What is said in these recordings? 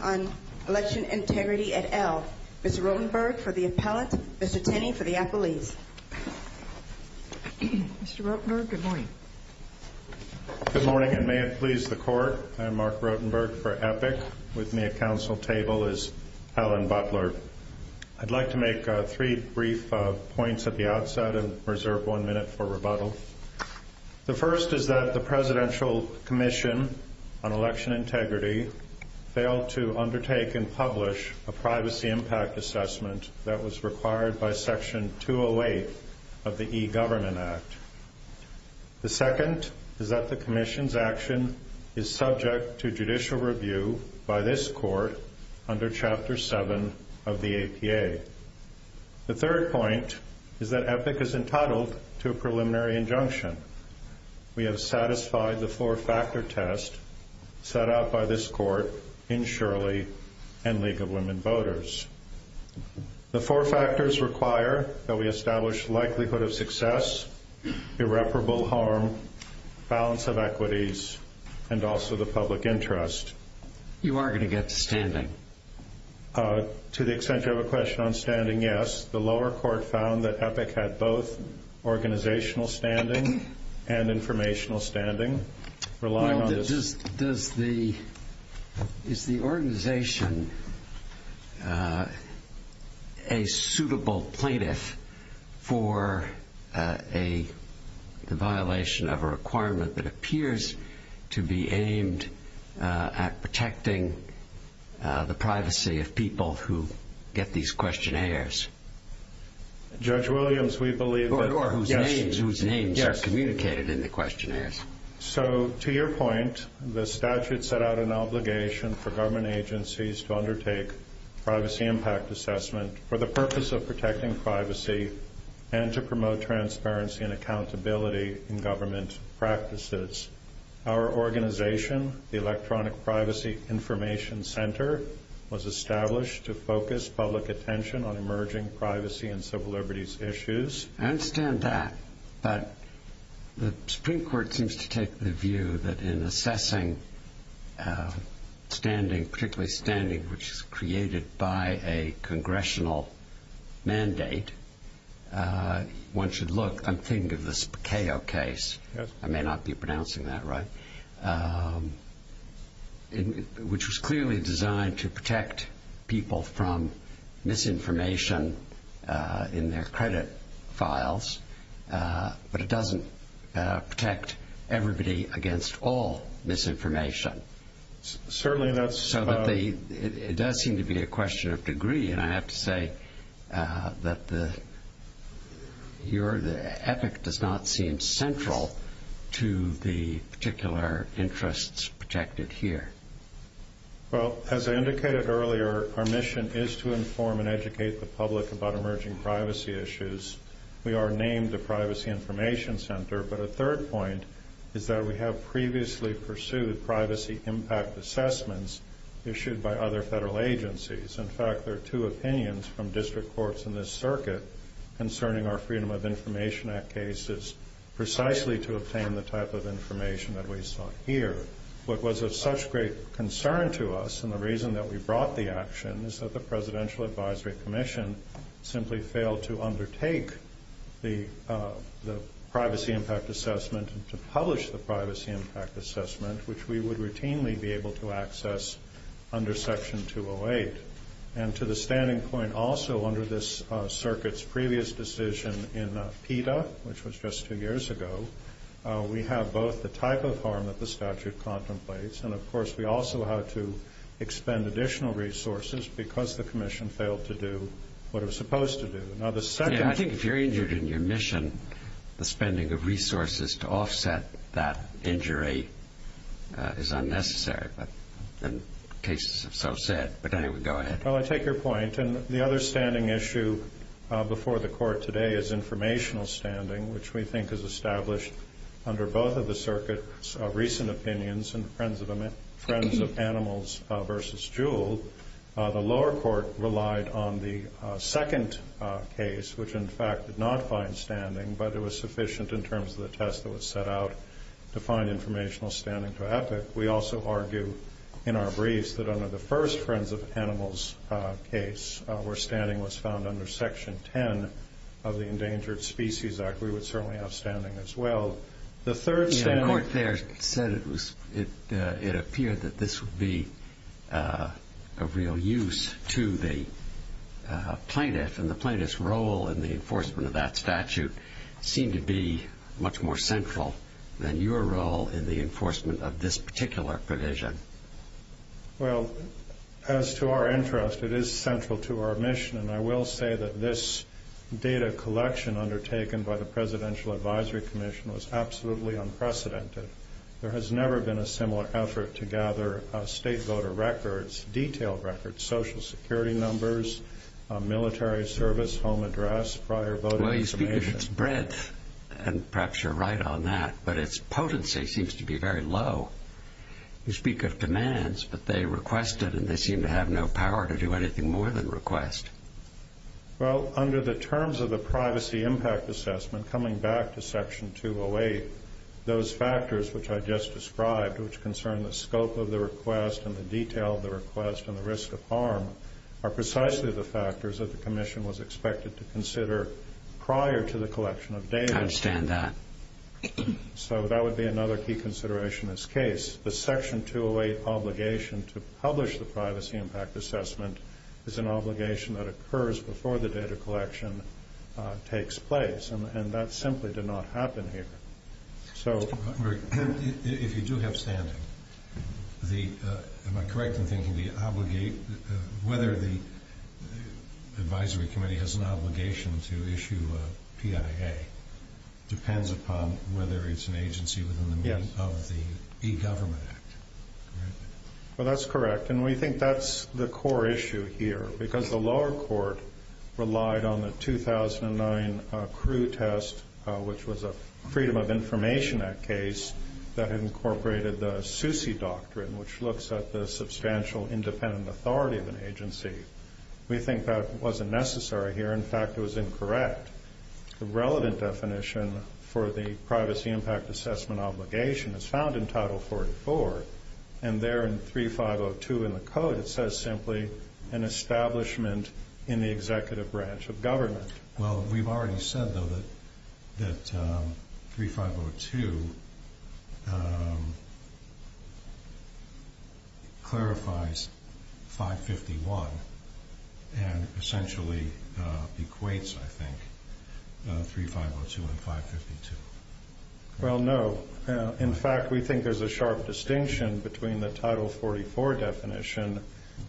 on Election Integrity, et al. Mr. Rotenberg for the appellate, Mr. Tenney for the appellees. Mr. Rotenberg, good morning. Good morning, and may it please the Court. I'm Mark Rotenberg for EPIC. With me at Council table is Helen Butler. I'll make three brief points at the outset and reserve one minute for rebuttal. The first is that the Presidential Commission on Election Integrity failed to undertake and publish a privacy impact assessment that was required by Section 208 of the E-Government Act. The second is that the Commission's action is subject to judicial review by this Court under Chapter 7 of the APA. The third point is that EPIC is entitled to a preliminary injunction. We have satisfied the four-factor test set out by this Court in Shirley and League of Women Voters. The four factors require that we establish likelihood of success, irreparable harm, balance of equities, and also the public interest. You are going to get to standing. To the extent you have a question on standing, yes. The lower court found that EPIC had both organizational standing and informational standing. Is the organization a suitable plaintiff for a violation of a requirement that appears to be aimed at protecting the privacy of people who get these questionnaires? Judge Williams, we believe that... Or whose names are communicated in the questionnaires. So, to your point, the statute set out an obligation for government agencies to undertake privacy impact assessment for the purpose of protecting privacy and to promote transparency and accountability in government practices. Our organization, the Electronic Privacy Information Center, was established to focus public attention on emerging privacy and civil liberties issues. I understand that, but the Supreme Court seems to take the view that in assessing standing, particularly standing which is created by a congressional mandate, one should look... I'm thinking of the Pacayo case. I may not be pronouncing that right. Which was clearly designed to protect people from misinformation in their credit files, but it doesn't protect everybody against all misinformation. It does seem to be a question of degree, and I have to say that EPIC does not seem central to the particular interests protected here. Well, as I indicated earlier, our mission is to inform and educate the public about emerging privacy issues. We are named the Privacy Information Center, but a third point is that we have previously pursued privacy impact assessments issued by other federal agencies. In fact, there are two opinions from district courts in this circuit concerning our Freedom of Information Act cases, precisely to obtain the type of information that we saw here. What was of such great concern to us, and the reason that we brought the action, is that the Presidential Advisory Commission simply failed to undertake the privacy impact assessment and to publish the privacy impact assessment, which we would routinely be able to access under Section 208. And to the standing point also under this circuit's previous decision in PETA, which was just two years ago, we have both the type of harm that the statute contemplates, and of course we also have to expend additional resources because the commission failed to do what it was supposed to do. I think if you're injured in your mission, the spending of resources to offset that injury is unnecessary, but cases have so said. But anyway, go ahead. Well, I take your point. And the other standing issue before the Court today is informational standing, which we think is established under both of the circuit's recent opinions in Friends of Animals v. Jewell. The lower court relied on the second case, which in fact did not find standing, but it was sufficient in terms of the test that was set out to find informational standing to Epic. We also argue in our briefs that under the first Friends of Animals case, where standing was found under Section 10 of the Endangered Species Act, we would certainly have standing as well. The third standing... plaintiff and the plaintiff's role in the enforcement of that statute seemed to be much more central than your role in the enforcement of this particular provision. Well, as to our interest, it is central to our mission, and I will say that this data collection undertaken by the Presidential Advisory Commission was absolutely unprecedented. There has never been a similar effort to gather state voter records, detailed records, Social Security numbers, military service, home address, prior voting information... Well, you speak of its breadth, and perhaps you're right on that, but its potency seems to be very low. You speak of demands, but they requested, and they seem to have no power to do anything more than request. Well, under the terms of the Privacy Impact Assessment, coming back to Section 208, those factors which I just described, which concern the scope of the request and the detail of the request and the risk of harm, are precisely the factors that the Commission was expected to consider prior to the collection of data. I understand that. So that would be another key consideration in this case. The Section 208 obligation to publish the Privacy Impact Assessment is an obligation that occurs before the data collection takes place, and that simply did not happen here. If you do have standing, am I correct in thinking whether the Advisory Committee has an obligation to issue a PIA depends upon whether it's an agency within the means of the E-Government Act? Well, that's correct, and we think that's the core issue here, because the lower court relied on the 2009 CREW test, which was a Freedom of Information Act case that incorporated the SUSI doctrine, which looks at the substantial independent authority of an agency. We think that wasn't necessary here. In fact, it was incorrect. The relevant definition for the Privacy Impact Assessment obligation is found in Title 44, and there in 3502 in the Code, it says simply, an establishment in the executive branch of government. Well, we've already said, though, that 3502 clarifies 551 and essentially equates, I think, 3502 and 552. Well, no. In fact, we think there's a sharp distinction between the Title 44 definition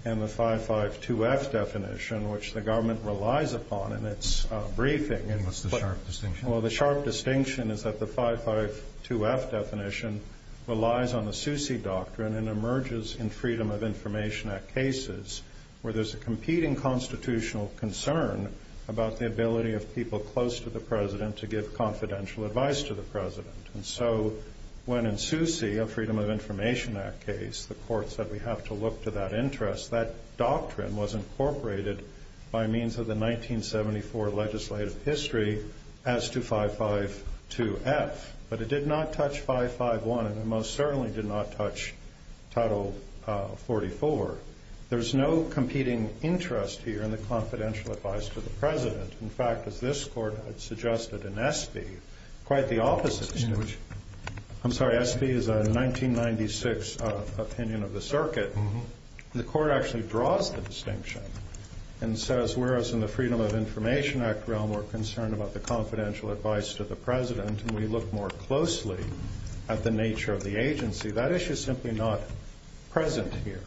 and the 552F definition, which the government relies upon in its briefing. What's the sharp distinction? Well, the sharp distinction is that the 552F definition relies on the SUSI doctrine and emerges in Freedom of Information Act cases where there's a competing constitutional concern about the ability of people close to the President to give confidential advice to the President. And so when in SUSI, a Freedom of Information Act case, the Court said we have to look to that interest, that doctrine was incorporated by means of the 1974 legislative history as to 552F. But it did not touch 551, and it most certainly did not touch Title 44. There's no competing interest here in the confidential advice to the President. In fact, as this Court had suggested in SB, quite the opposite. I'm sorry, SB is a 1996 opinion of the Circuit. The Court actually draws the distinction and says, whereas in the Freedom of Information Act realm, we're concerned about the confidential advice to the President, and we look more closely at the nature of the agency, that issue's simply not present here.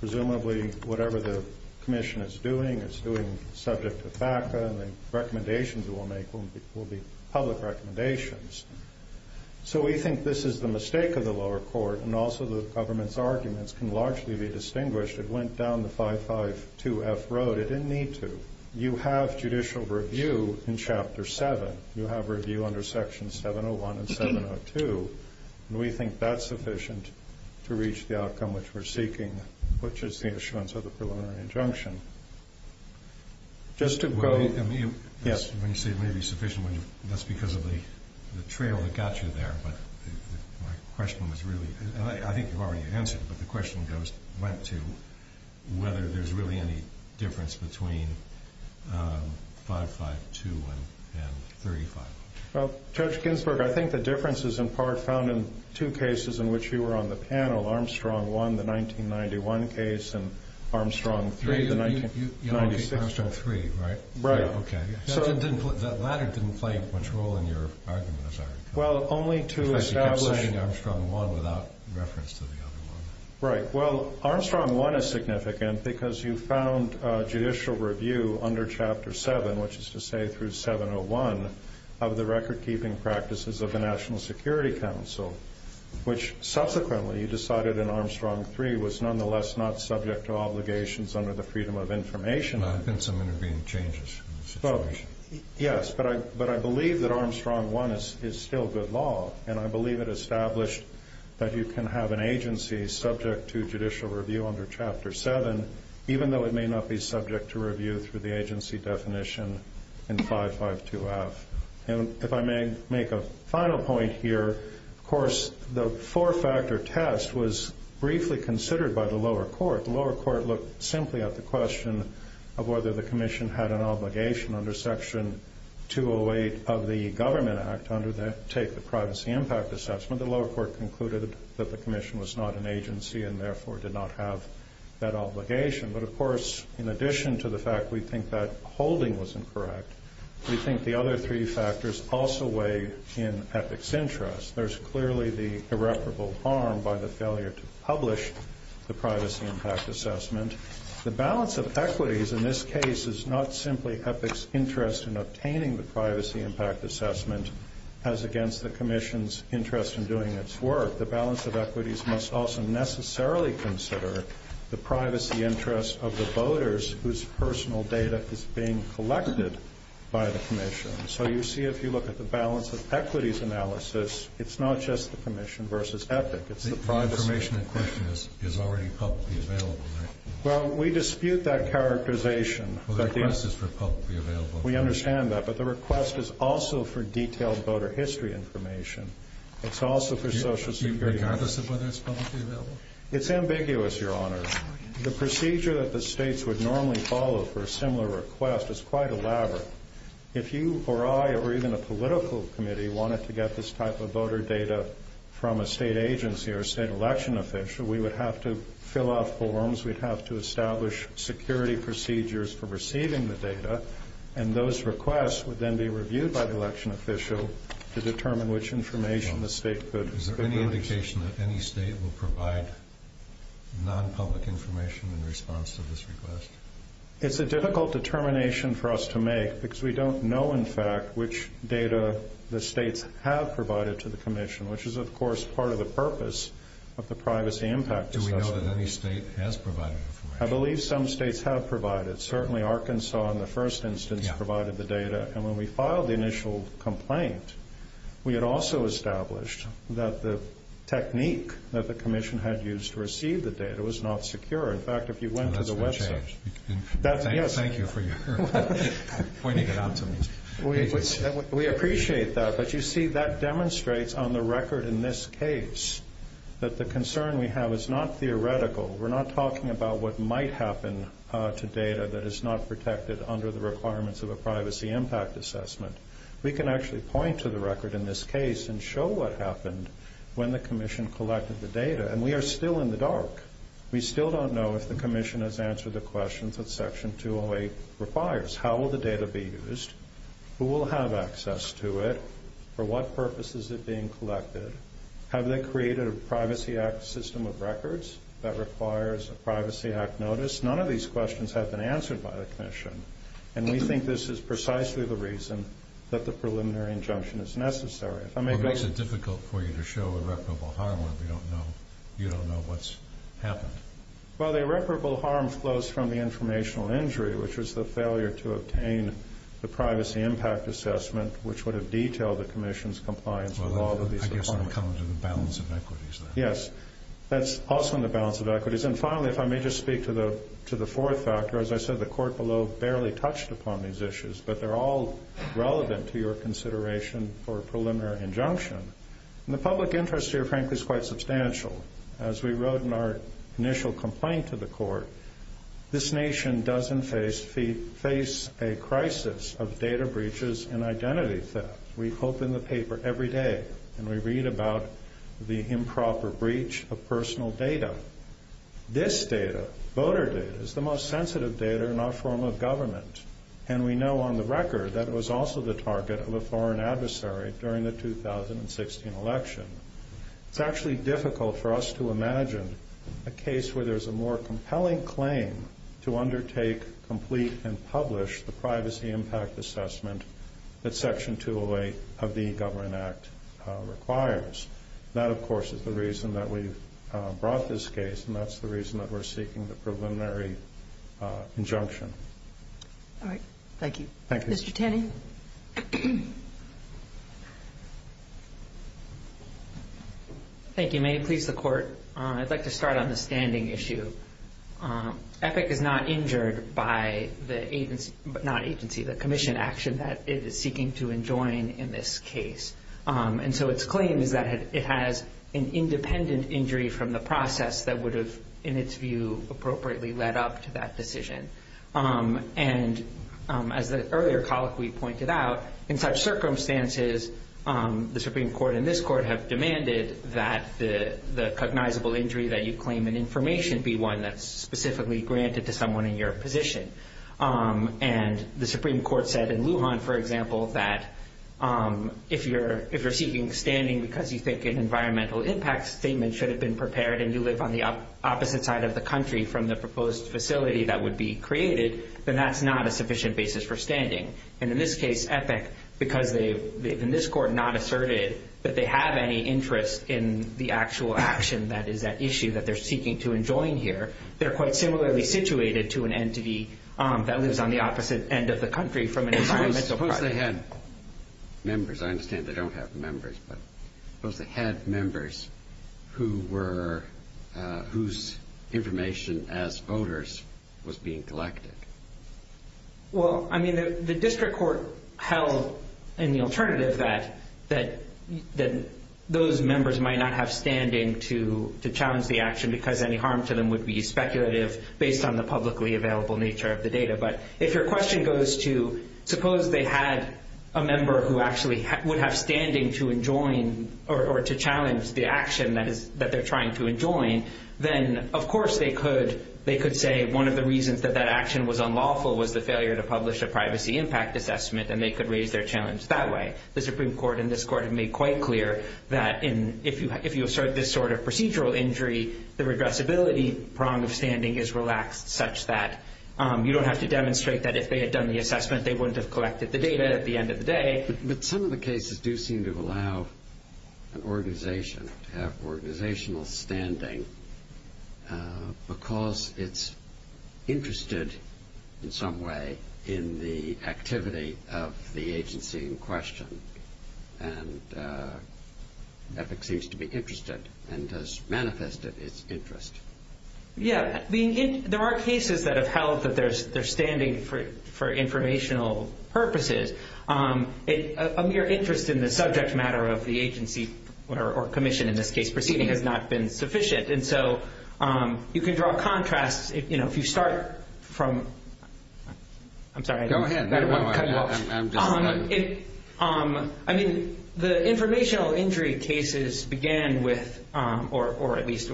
Presumably, whatever the Commission is doing, it's doing subject to FACA, and the recommendations it will make will be public recommendations. So we think this is the mistake of the lower court, and also the government's arguments can largely be distinguished. It went down the 552F road. It didn't need to. You have judicial review in Chapter 7. You have review under Section 701 and 702, and we think that's sufficient to reach the outcome which we're seeking, which is the assurance of the preliminary injunction. Just to go... When you say it may be sufficient, that's because of the trail that got you there, but my question was really... I think you've already answered, but the question went to whether there's really any difference between 552 and 35. Well, Judge Ginsburg, I think the difference is in part found in two cases in which you were on the panel, Armstrong 1, the 1991 case, and Armstrong 3, the 1996... Armstrong 3, right? Right. Okay. That latter didn't play much role in your argument, as I recall. Well, only to establish... You kept saying Armstrong 1 without reference to the other one. Right. Well, Armstrong 1 is significant because you found judicial review under Chapter 7, which is to say through 701, of the record-keeping practices of the National Security Council, which subsequently you decided in Armstrong 3 was nonetheless not subject to obligations under the Freedom of Information Act. There have been some intervening changes in the situation. Yes, but I believe that Armstrong 1 is still good law, and I believe it is an agency subject to judicial review under Chapter 7, even though it may not be subject to review through the agency definition in 552F. And if I may make a final point here, of course, the four-factor test was briefly considered by the lower court. The lower court looked simply at the question of whether the Commission had an obligation under Section 208 of the Government Act to undertake the Privacy Impact Assessment. The lower court concluded that the Commission was not an agency and therefore did not have that obligation. But of course, in addition to the fact we think that holding was incorrect, we think the other three factors also weigh in EPIC's interest. There's clearly the irreparable harm by the failure to publish the Privacy Impact Assessment as against the Commission's interest in doing its work. The balance of equities must also necessarily consider the privacy interest of the voters whose personal data is being collected by the Commission. So you see, if you look at the balance of equities analysis, it's not just the Commission versus EPIC. The information in question is already publicly available, right? Well, we dispute that characterization. Well, the request is for publicly available. We understand that, but the request is also for detailed voter history information. It's also for Social Security information. Do you regard this as whether it's publicly available? It's ambiguous, Your Honor. The procedure that the states would normally follow for a similar request is quite elaborate. If you or I or even a political committee wanted to get this type of voter data from a state agency or a state election official, we would have to fill out forms. We'd have to establish security procedures for receiving the data. And those requests would then be reviewed by the election official to determine which information the state could Is there any indication that any state will provide non-public information in response to this request? It's a difficult determination for us to make because we don't know, in fact, which data the states have provided to the Commission, which is, of course, part of the purpose of the privacy impact assessment. Do we know that any state has provided information? I believe some states have provided. Certainly, Arkansas, in the first instance, provided the data. And when we filed the initial complaint, we had also established that the technique that the Commission had used to receive the data was not secure. In fact, if you went to the website Thank you for pointing it out to me. We appreciate that. But you see, that demonstrates on the record in this case that the concern we have is not theoretical. We're not talking about what might happen to data that is not protected under the requirements of a privacy impact assessment. We can actually point to the record in this case and show what happened when the Commission collected the data. And we are still in the dark. We still don't know if the Commission has answered the questions that Section 208 requires. How will the data be used? Who will have access to it? For what purpose is it being collected? Have they created a Privacy Act system of records that requires a Privacy Act notice? None of these questions have been answered by the Commission. And we think this is precisely the reason that the preliminary injunction is necessary. Well, it makes it difficult for you to show irreparable harm when you don't know what's happened. Well, the irreparable harm flows from the informational injury, which was the failure to obtain the Privacy Impact Assessment, which would have detailed the Commission's compliance with all of these requirements. Yes, that's also in the balance of equities. And finally, if I may just speak to the fourth factor. As I said, the Court below barely touched upon these issues, but they're all relevant to your consideration for a preliminary injunction. And the public interest here, frankly, is quite substantial. As we wrote in our initial complaint to the Court, this nation does face a crisis of data breaches and identity theft. We hope in the paper every day, and we read about the improper breach of personal data. This data, voter data, is the most sensitive data in our form of government. And we know on the record that it was also the target of a foreign adversary during the 2016 election. It's actually difficult for us to imagine a case where there's a more compelling claim to undertake, complete, and publish the Privacy Impact Assessment that Section 208 of the Government Act requires. That, of course, is the reason that we brought this case, and that's the reason that we're seeking the preliminary injunction. All right. Thank you. Mr. Tanning? Thank you. May it please the Court, I'd like to start on the standing issue. EPIC is not injured by the commission action that it is seeking to enjoin in this case. And so its claim is that it has an independent injury from the process that would have, in its view, appropriately led up to that decision. And as the earlier colleague pointed out, in such circumstances, the Supreme Court and this Court have demanded that the cognizable injury that you claim in information be one that's specifically granted to someone in your position. And the Supreme Court said in Lujan, for example, that if you're seeking standing because you think an environmental impact statement should have been prepared and you live on the opposite side of the country from the proposed facility that would be created, then that's not a sufficient basis for standing. And in this case, EPIC, because they've, in this Court, not asserted that they have any interest in the actual action that is at issue that they're seeking to enjoin here, they're quite similarly situated to an entity that lives on the opposite end of the country from an environmental project. Suppose they had members. I understand they don't have members, but suppose they had members whose information as voters was being collected. Well, I mean, the district court held in the alternative that those members might not have standing to challenge the action because any harm to them would be speculative based on the publicly available nature of the data. But if your question goes to suppose they had a member who actually would have standing to enjoin or to challenge the action that they're trying to enjoin, then of course they could say one of the reasons that that action was unlawful was the failure to publish a privacy impact assessment and they could raise their challenge that way. The Supreme Court in this Court have made quite clear that if you assert this sort of procedural injury, the regressibility prong of standing is relaxed such that you don't have to demonstrate that if they had done the assessment they wouldn't have collected the data at the end of the day. But some of the cases do seem to allow an organization to have organizational standing because it's interested in some way in the activity of the agency in question. And that seems to be interested and does manifest its interest. Yeah, there are cases that have held that there's standing for informational purposes. A mere interest in the subject matter of the agency or commission in this case proceeding has not been sufficient. And so you can draw contrasts. If you start from... I'm sorry. Go ahead. I mean the informational injury cases began with or at least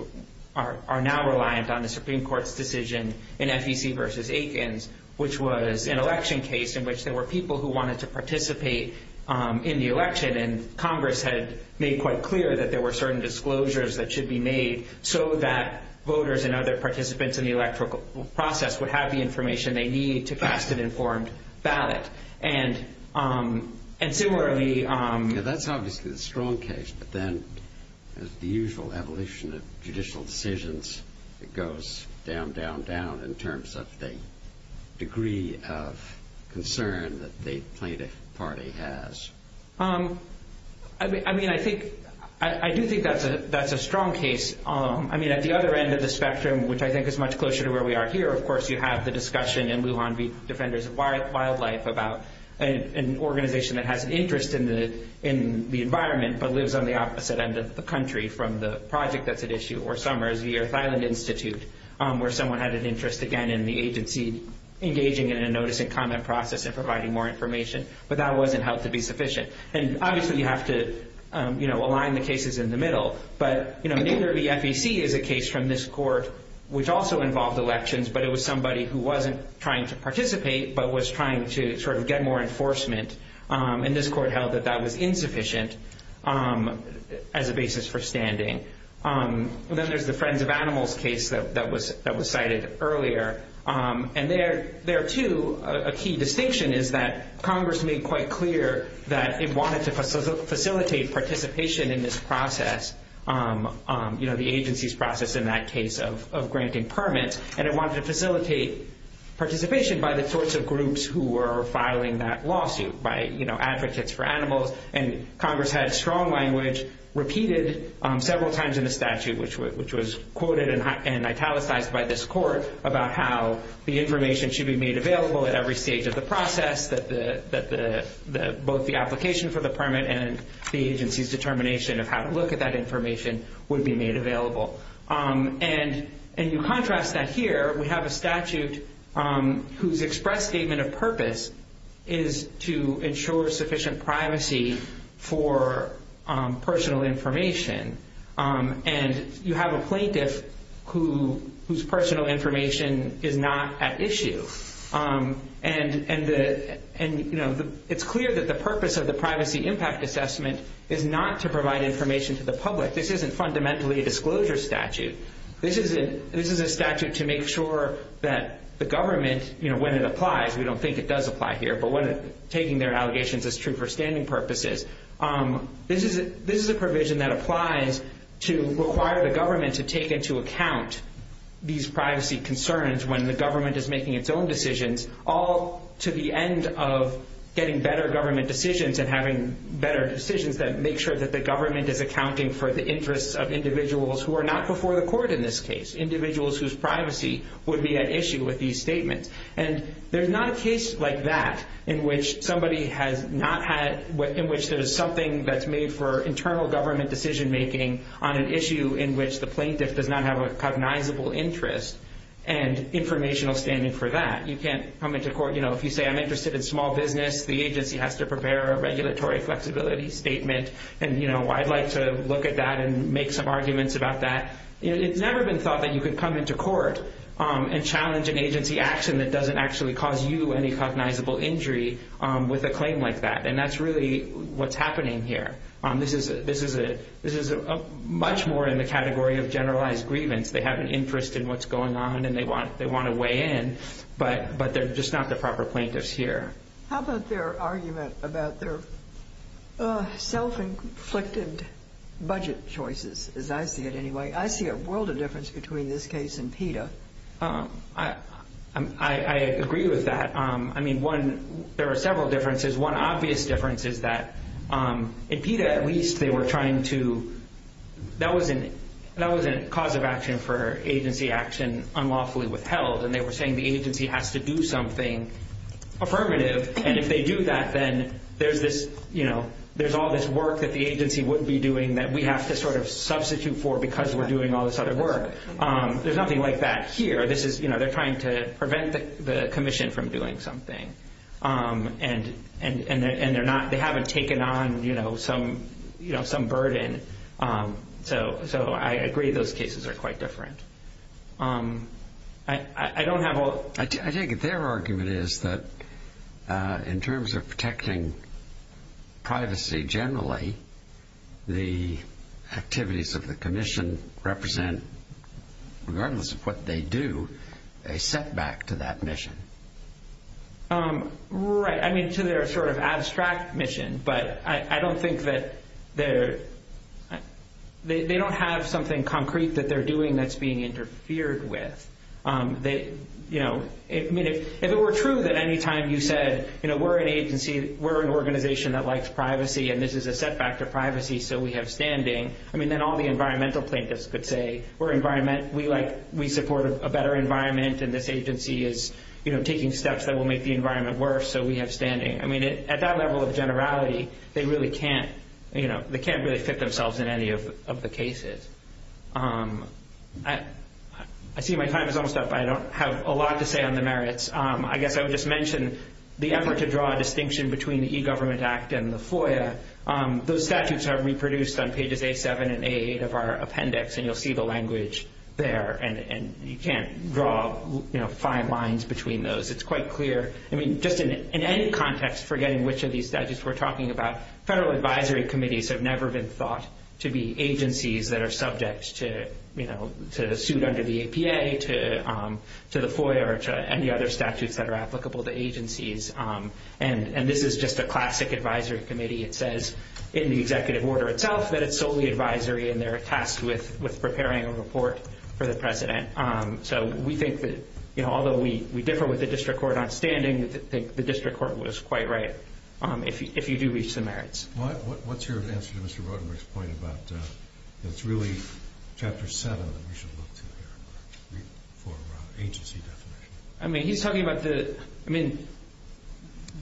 are now reliant on the Supreme Court's decision in FEC versus Aikens which was an election case in which there were people who wanted to participate in the election and Congress had made quite clear that there were certain disclosures that should be made so that voters and other participants in the electoral process would have the information they need to cast an informed ballot. And similarly... That's obviously a strong case but then the usual evolution of judicial decisions goes down, down, down in terms of the degree of concern that the plaintiff party has. I mean I do think that's a strong case. I mean at the other end of the an organization that has an interest in the environment but lives on the opposite end of the country from the project that's at issue or somewhere is the Earth Island Institute where someone had an interest again in the agency engaging in a notice and comment process and providing more information. But that wasn't held to be sufficient. And obviously you have to align the cases in the middle. But neither of the FEC is a case from this election but it was somebody who wasn't trying to participate but was trying to get more enforcement and this court held that that was insufficient as a basis for standing. Then there's the Friends of Animals case that was cited earlier and there too a key distinction is that Congress made quite clear that it wanted to facilitate participation in this process, the agency's process in that case of granting permits. And it wanted to facilitate participation by the sorts of groups who were filing that lawsuit. By advocates for animals and Congress had strong language repeated several times in the statute which was quoted and italicized by this court about how the information should be made available at every stage of the process, that both the application for the permit and the agency's determination of how to look at that information would be made available. And you contrast that here, we have a statute whose express statement of purpose is to ensure sufficient privacy for personal information. And you have a plaintiff whose personal information is not at issue. And it's clear that the purpose of the privacy impact assessment is not to provide information to the public. This isn't fundamentally a disclosure statute. This is a statute to make sure that the government, when it applies, we don't think it does apply here but when taking their allegations as true for standing purposes, this is a provision that applies to require the government to take into account these privacy concerns when the government is making its own decisions, all to the end of getting better government decisions and having better decisions that make sure that the government is accounting for the interests of individuals who are not before the court in this case. Individuals whose privacy would be at issue with these statements. And there's not a case like that in which somebody has not had, in which there's something that's made for internal government decision making on an issue in which the plaintiff does not have a cognizable interest and informational standing for that. You can't come into court, you know, if you say I'm interested in small business, the agency has to prepare a regulatory flexibility statement and I'd like to look at that and make some arguments about that. It's never been thought that you could come into court and challenge an agency action that doesn't actually cause you any cognizable injury with a claim like that. And that's really what's happening here. This is much more in the category of generalized grievance. They have an interest in what's going on and they want to weigh in but they're just not the proper plaintiffs here. How about their argument about their self-inflicted budget choices, as I see it anyway. I see a world of difference between this case and PETA. I agree with that. I mean, one, there are several differences. One obvious difference is that in PETA at least they were trying to that wasn't cause of action for agency action unlawfully withheld and they were saying the agency has to do something affirmative and if they do that then there's this, you know, there's all this work that the agency would be doing that we have to sort of substitute for because we're doing all this other work. There's nothing like that here. They're trying to prevent the commission from doing something. And they haven't taken on some burden. So I agree those cases are quite different. I take it their argument is that in terms of protecting privacy generally, the activities of the commission represent regardless of what they do, a setback to that mission. Right. I mean, to their sort of abstract mission. But I don't think that they don't have something concrete that they're doing that's being interfered with. If it were true that any time you said we're an agency, we're an organization that we have standing, then all the environmental plaintiffs could say we support a better environment and this agency is taking steps that will make the environment worse so we have standing. At that level of generality, they can't really fit themselves in any of the cases. I see my time is almost up. I don't have a lot to say on the merits. I guess I would just mention the effort to draw a distinction between the E-Government Act and the FOIA. Those statutes are reproduced on pages A-7 and A-8 of our appendix. And you'll see the language there. And you can't draw fine lines between those. It's quite clear. Just in any context, forgetting which of these statutes we're talking about, federal advisory committees have never been thought to be agencies that are subject to suit under the APA, to the FOIA, or to any other statutes that are applicable to agencies. And this is just a classic advisory committee. It says in the executive order itself that it's solely advisory and they're tasked with preparing a report for the president. So we think that although we differ with the district court on standing, we think the district court was quite right if you do reach the merits.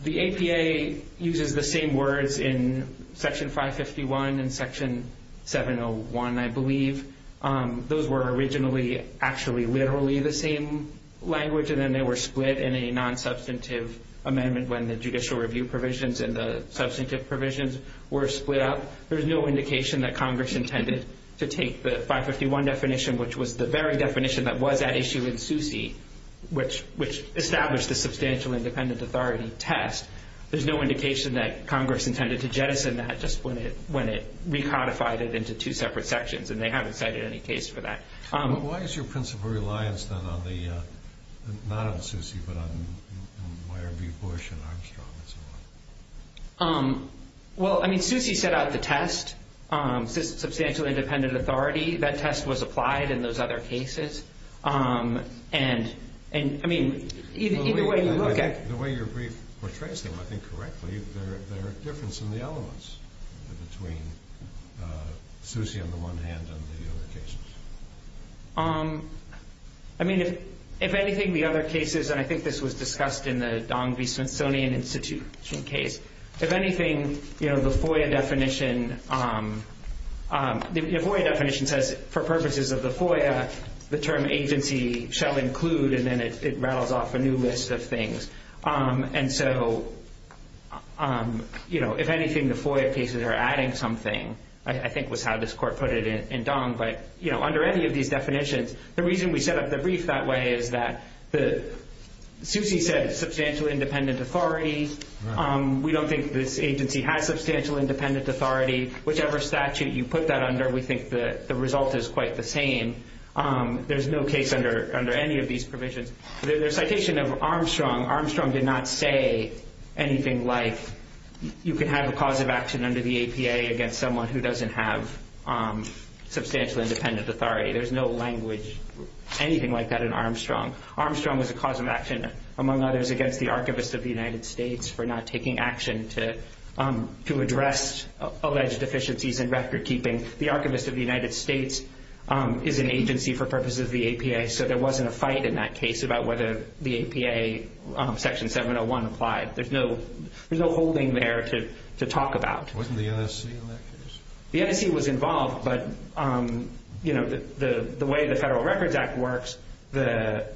The APA uses the same words in Section 551 and Section 701, I believe. Those were originally actually literally the same language. They were split in a non-substantive amendment when the judicial review provisions and the substantive provisions were split up. There's no indication that Congress intended to take the 551 definition, which was the very definition that was at issue in SUSE, which established the substantial independent authority test. There's no indication that Congress intended to jettison that just when it recodified it into two separate sections. And they haven't cited any case for that. Well, I mean, SUSE set out the test, substantial independent authority. That test was applied in those other cases. And I mean, either way you look at it... I mean, if anything, the other cases, and I think this was discussed in the Dong v. Smithsonian Institute case, if anything, the FOIA definition says for purposes of the FOIA, the term agency shall include, and then it rattles off a new list of things. And so if anything, the FOIA cases are adding something. I think was how this court put it in Dong. But under any of these definitions, the reason we set up the brief that way is that SUSE said substantial independent authority. We don't think this agency has substantial independent authority. Whichever statute you put that under, we think the result is quite the same. There's no case under any of these provisions. The citation of Armstrong, Armstrong did not say anything like you can have a cause of action under the APA against someone who doesn't have substantial independent authority. There's no language, anything like that in Armstrong. Armstrong was a cause of action, among others, against the Archivist of the United States for not taking action to address alleged deficiencies in record keeping. The Archivist of the United States is an agency for purposes of the APA, so there wasn't a fight in that case about whether the APA Section 701 applied. There's no holding there to talk about. The NSC was involved, but the way the Federal Records Act works, the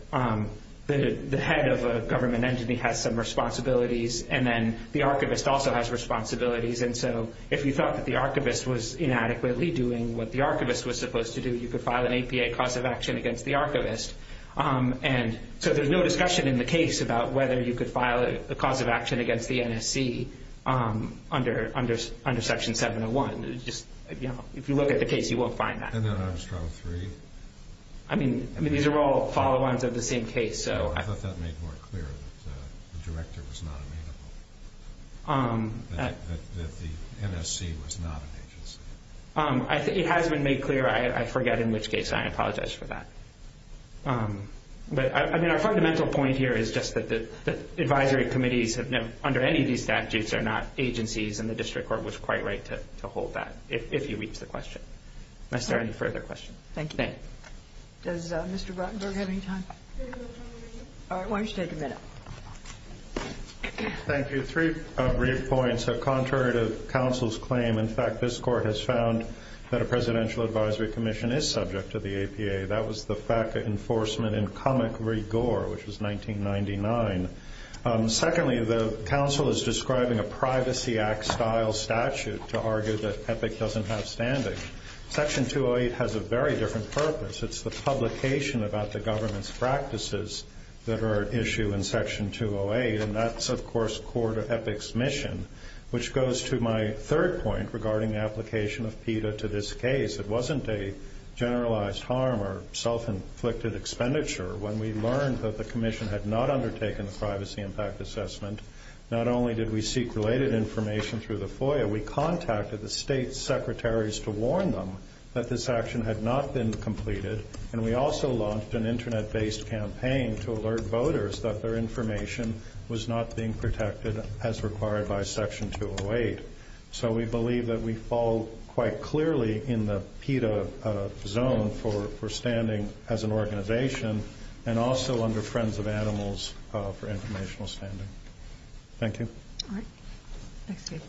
head of a government agency has some responsibilities, and then the Archivist also has responsibilities. If you thought that the Archivist was inadequately doing what the Archivist was supposed to do, you could file an APA cause of action against the Archivist. There's no discussion in the case about whether you could file a cause of action against the NSC under Section 701. If you look at the case, you won't find that. These are all follow-ons of the same case. It has been made clear. I forget in which case. I apologize for that. Our fundamental point here is just that the advisory committees under any of these statutes are not agencies, and the District Court was quite right to hold that, if you reach the question. Is there any further questions? Thank you. Three brief points. Contrary to counsel's claim, in fact, this Court has found that a Presidential Advisory Commission is subject to the APA. That was the FACA enforcement in comic rigor, which was 1999. Secondly, the counsel is describing a Privacy Act-style statute to argue that EPIC doesn't have standing. Section 208 has a very different purpose. It's the publication about the government's practices that are at issue in Section 208, and that's, of course, core to EPIC's mission, which goes to my third point regarding the application of PETA to this case. It wasn't a generalized harm or self-inflicted expenditure. When we learned that the Commission had not undertaken the Privacy Impact Assessment, not only did we seek related information through the FOIA, we contacted the State Secretaries to alert voters that their information was not being protected as required by Section 208. So we believe that we fall quite clearly in the PETA zone for standing as an organization, and also under Friends of Animals for informational standing. Thank you.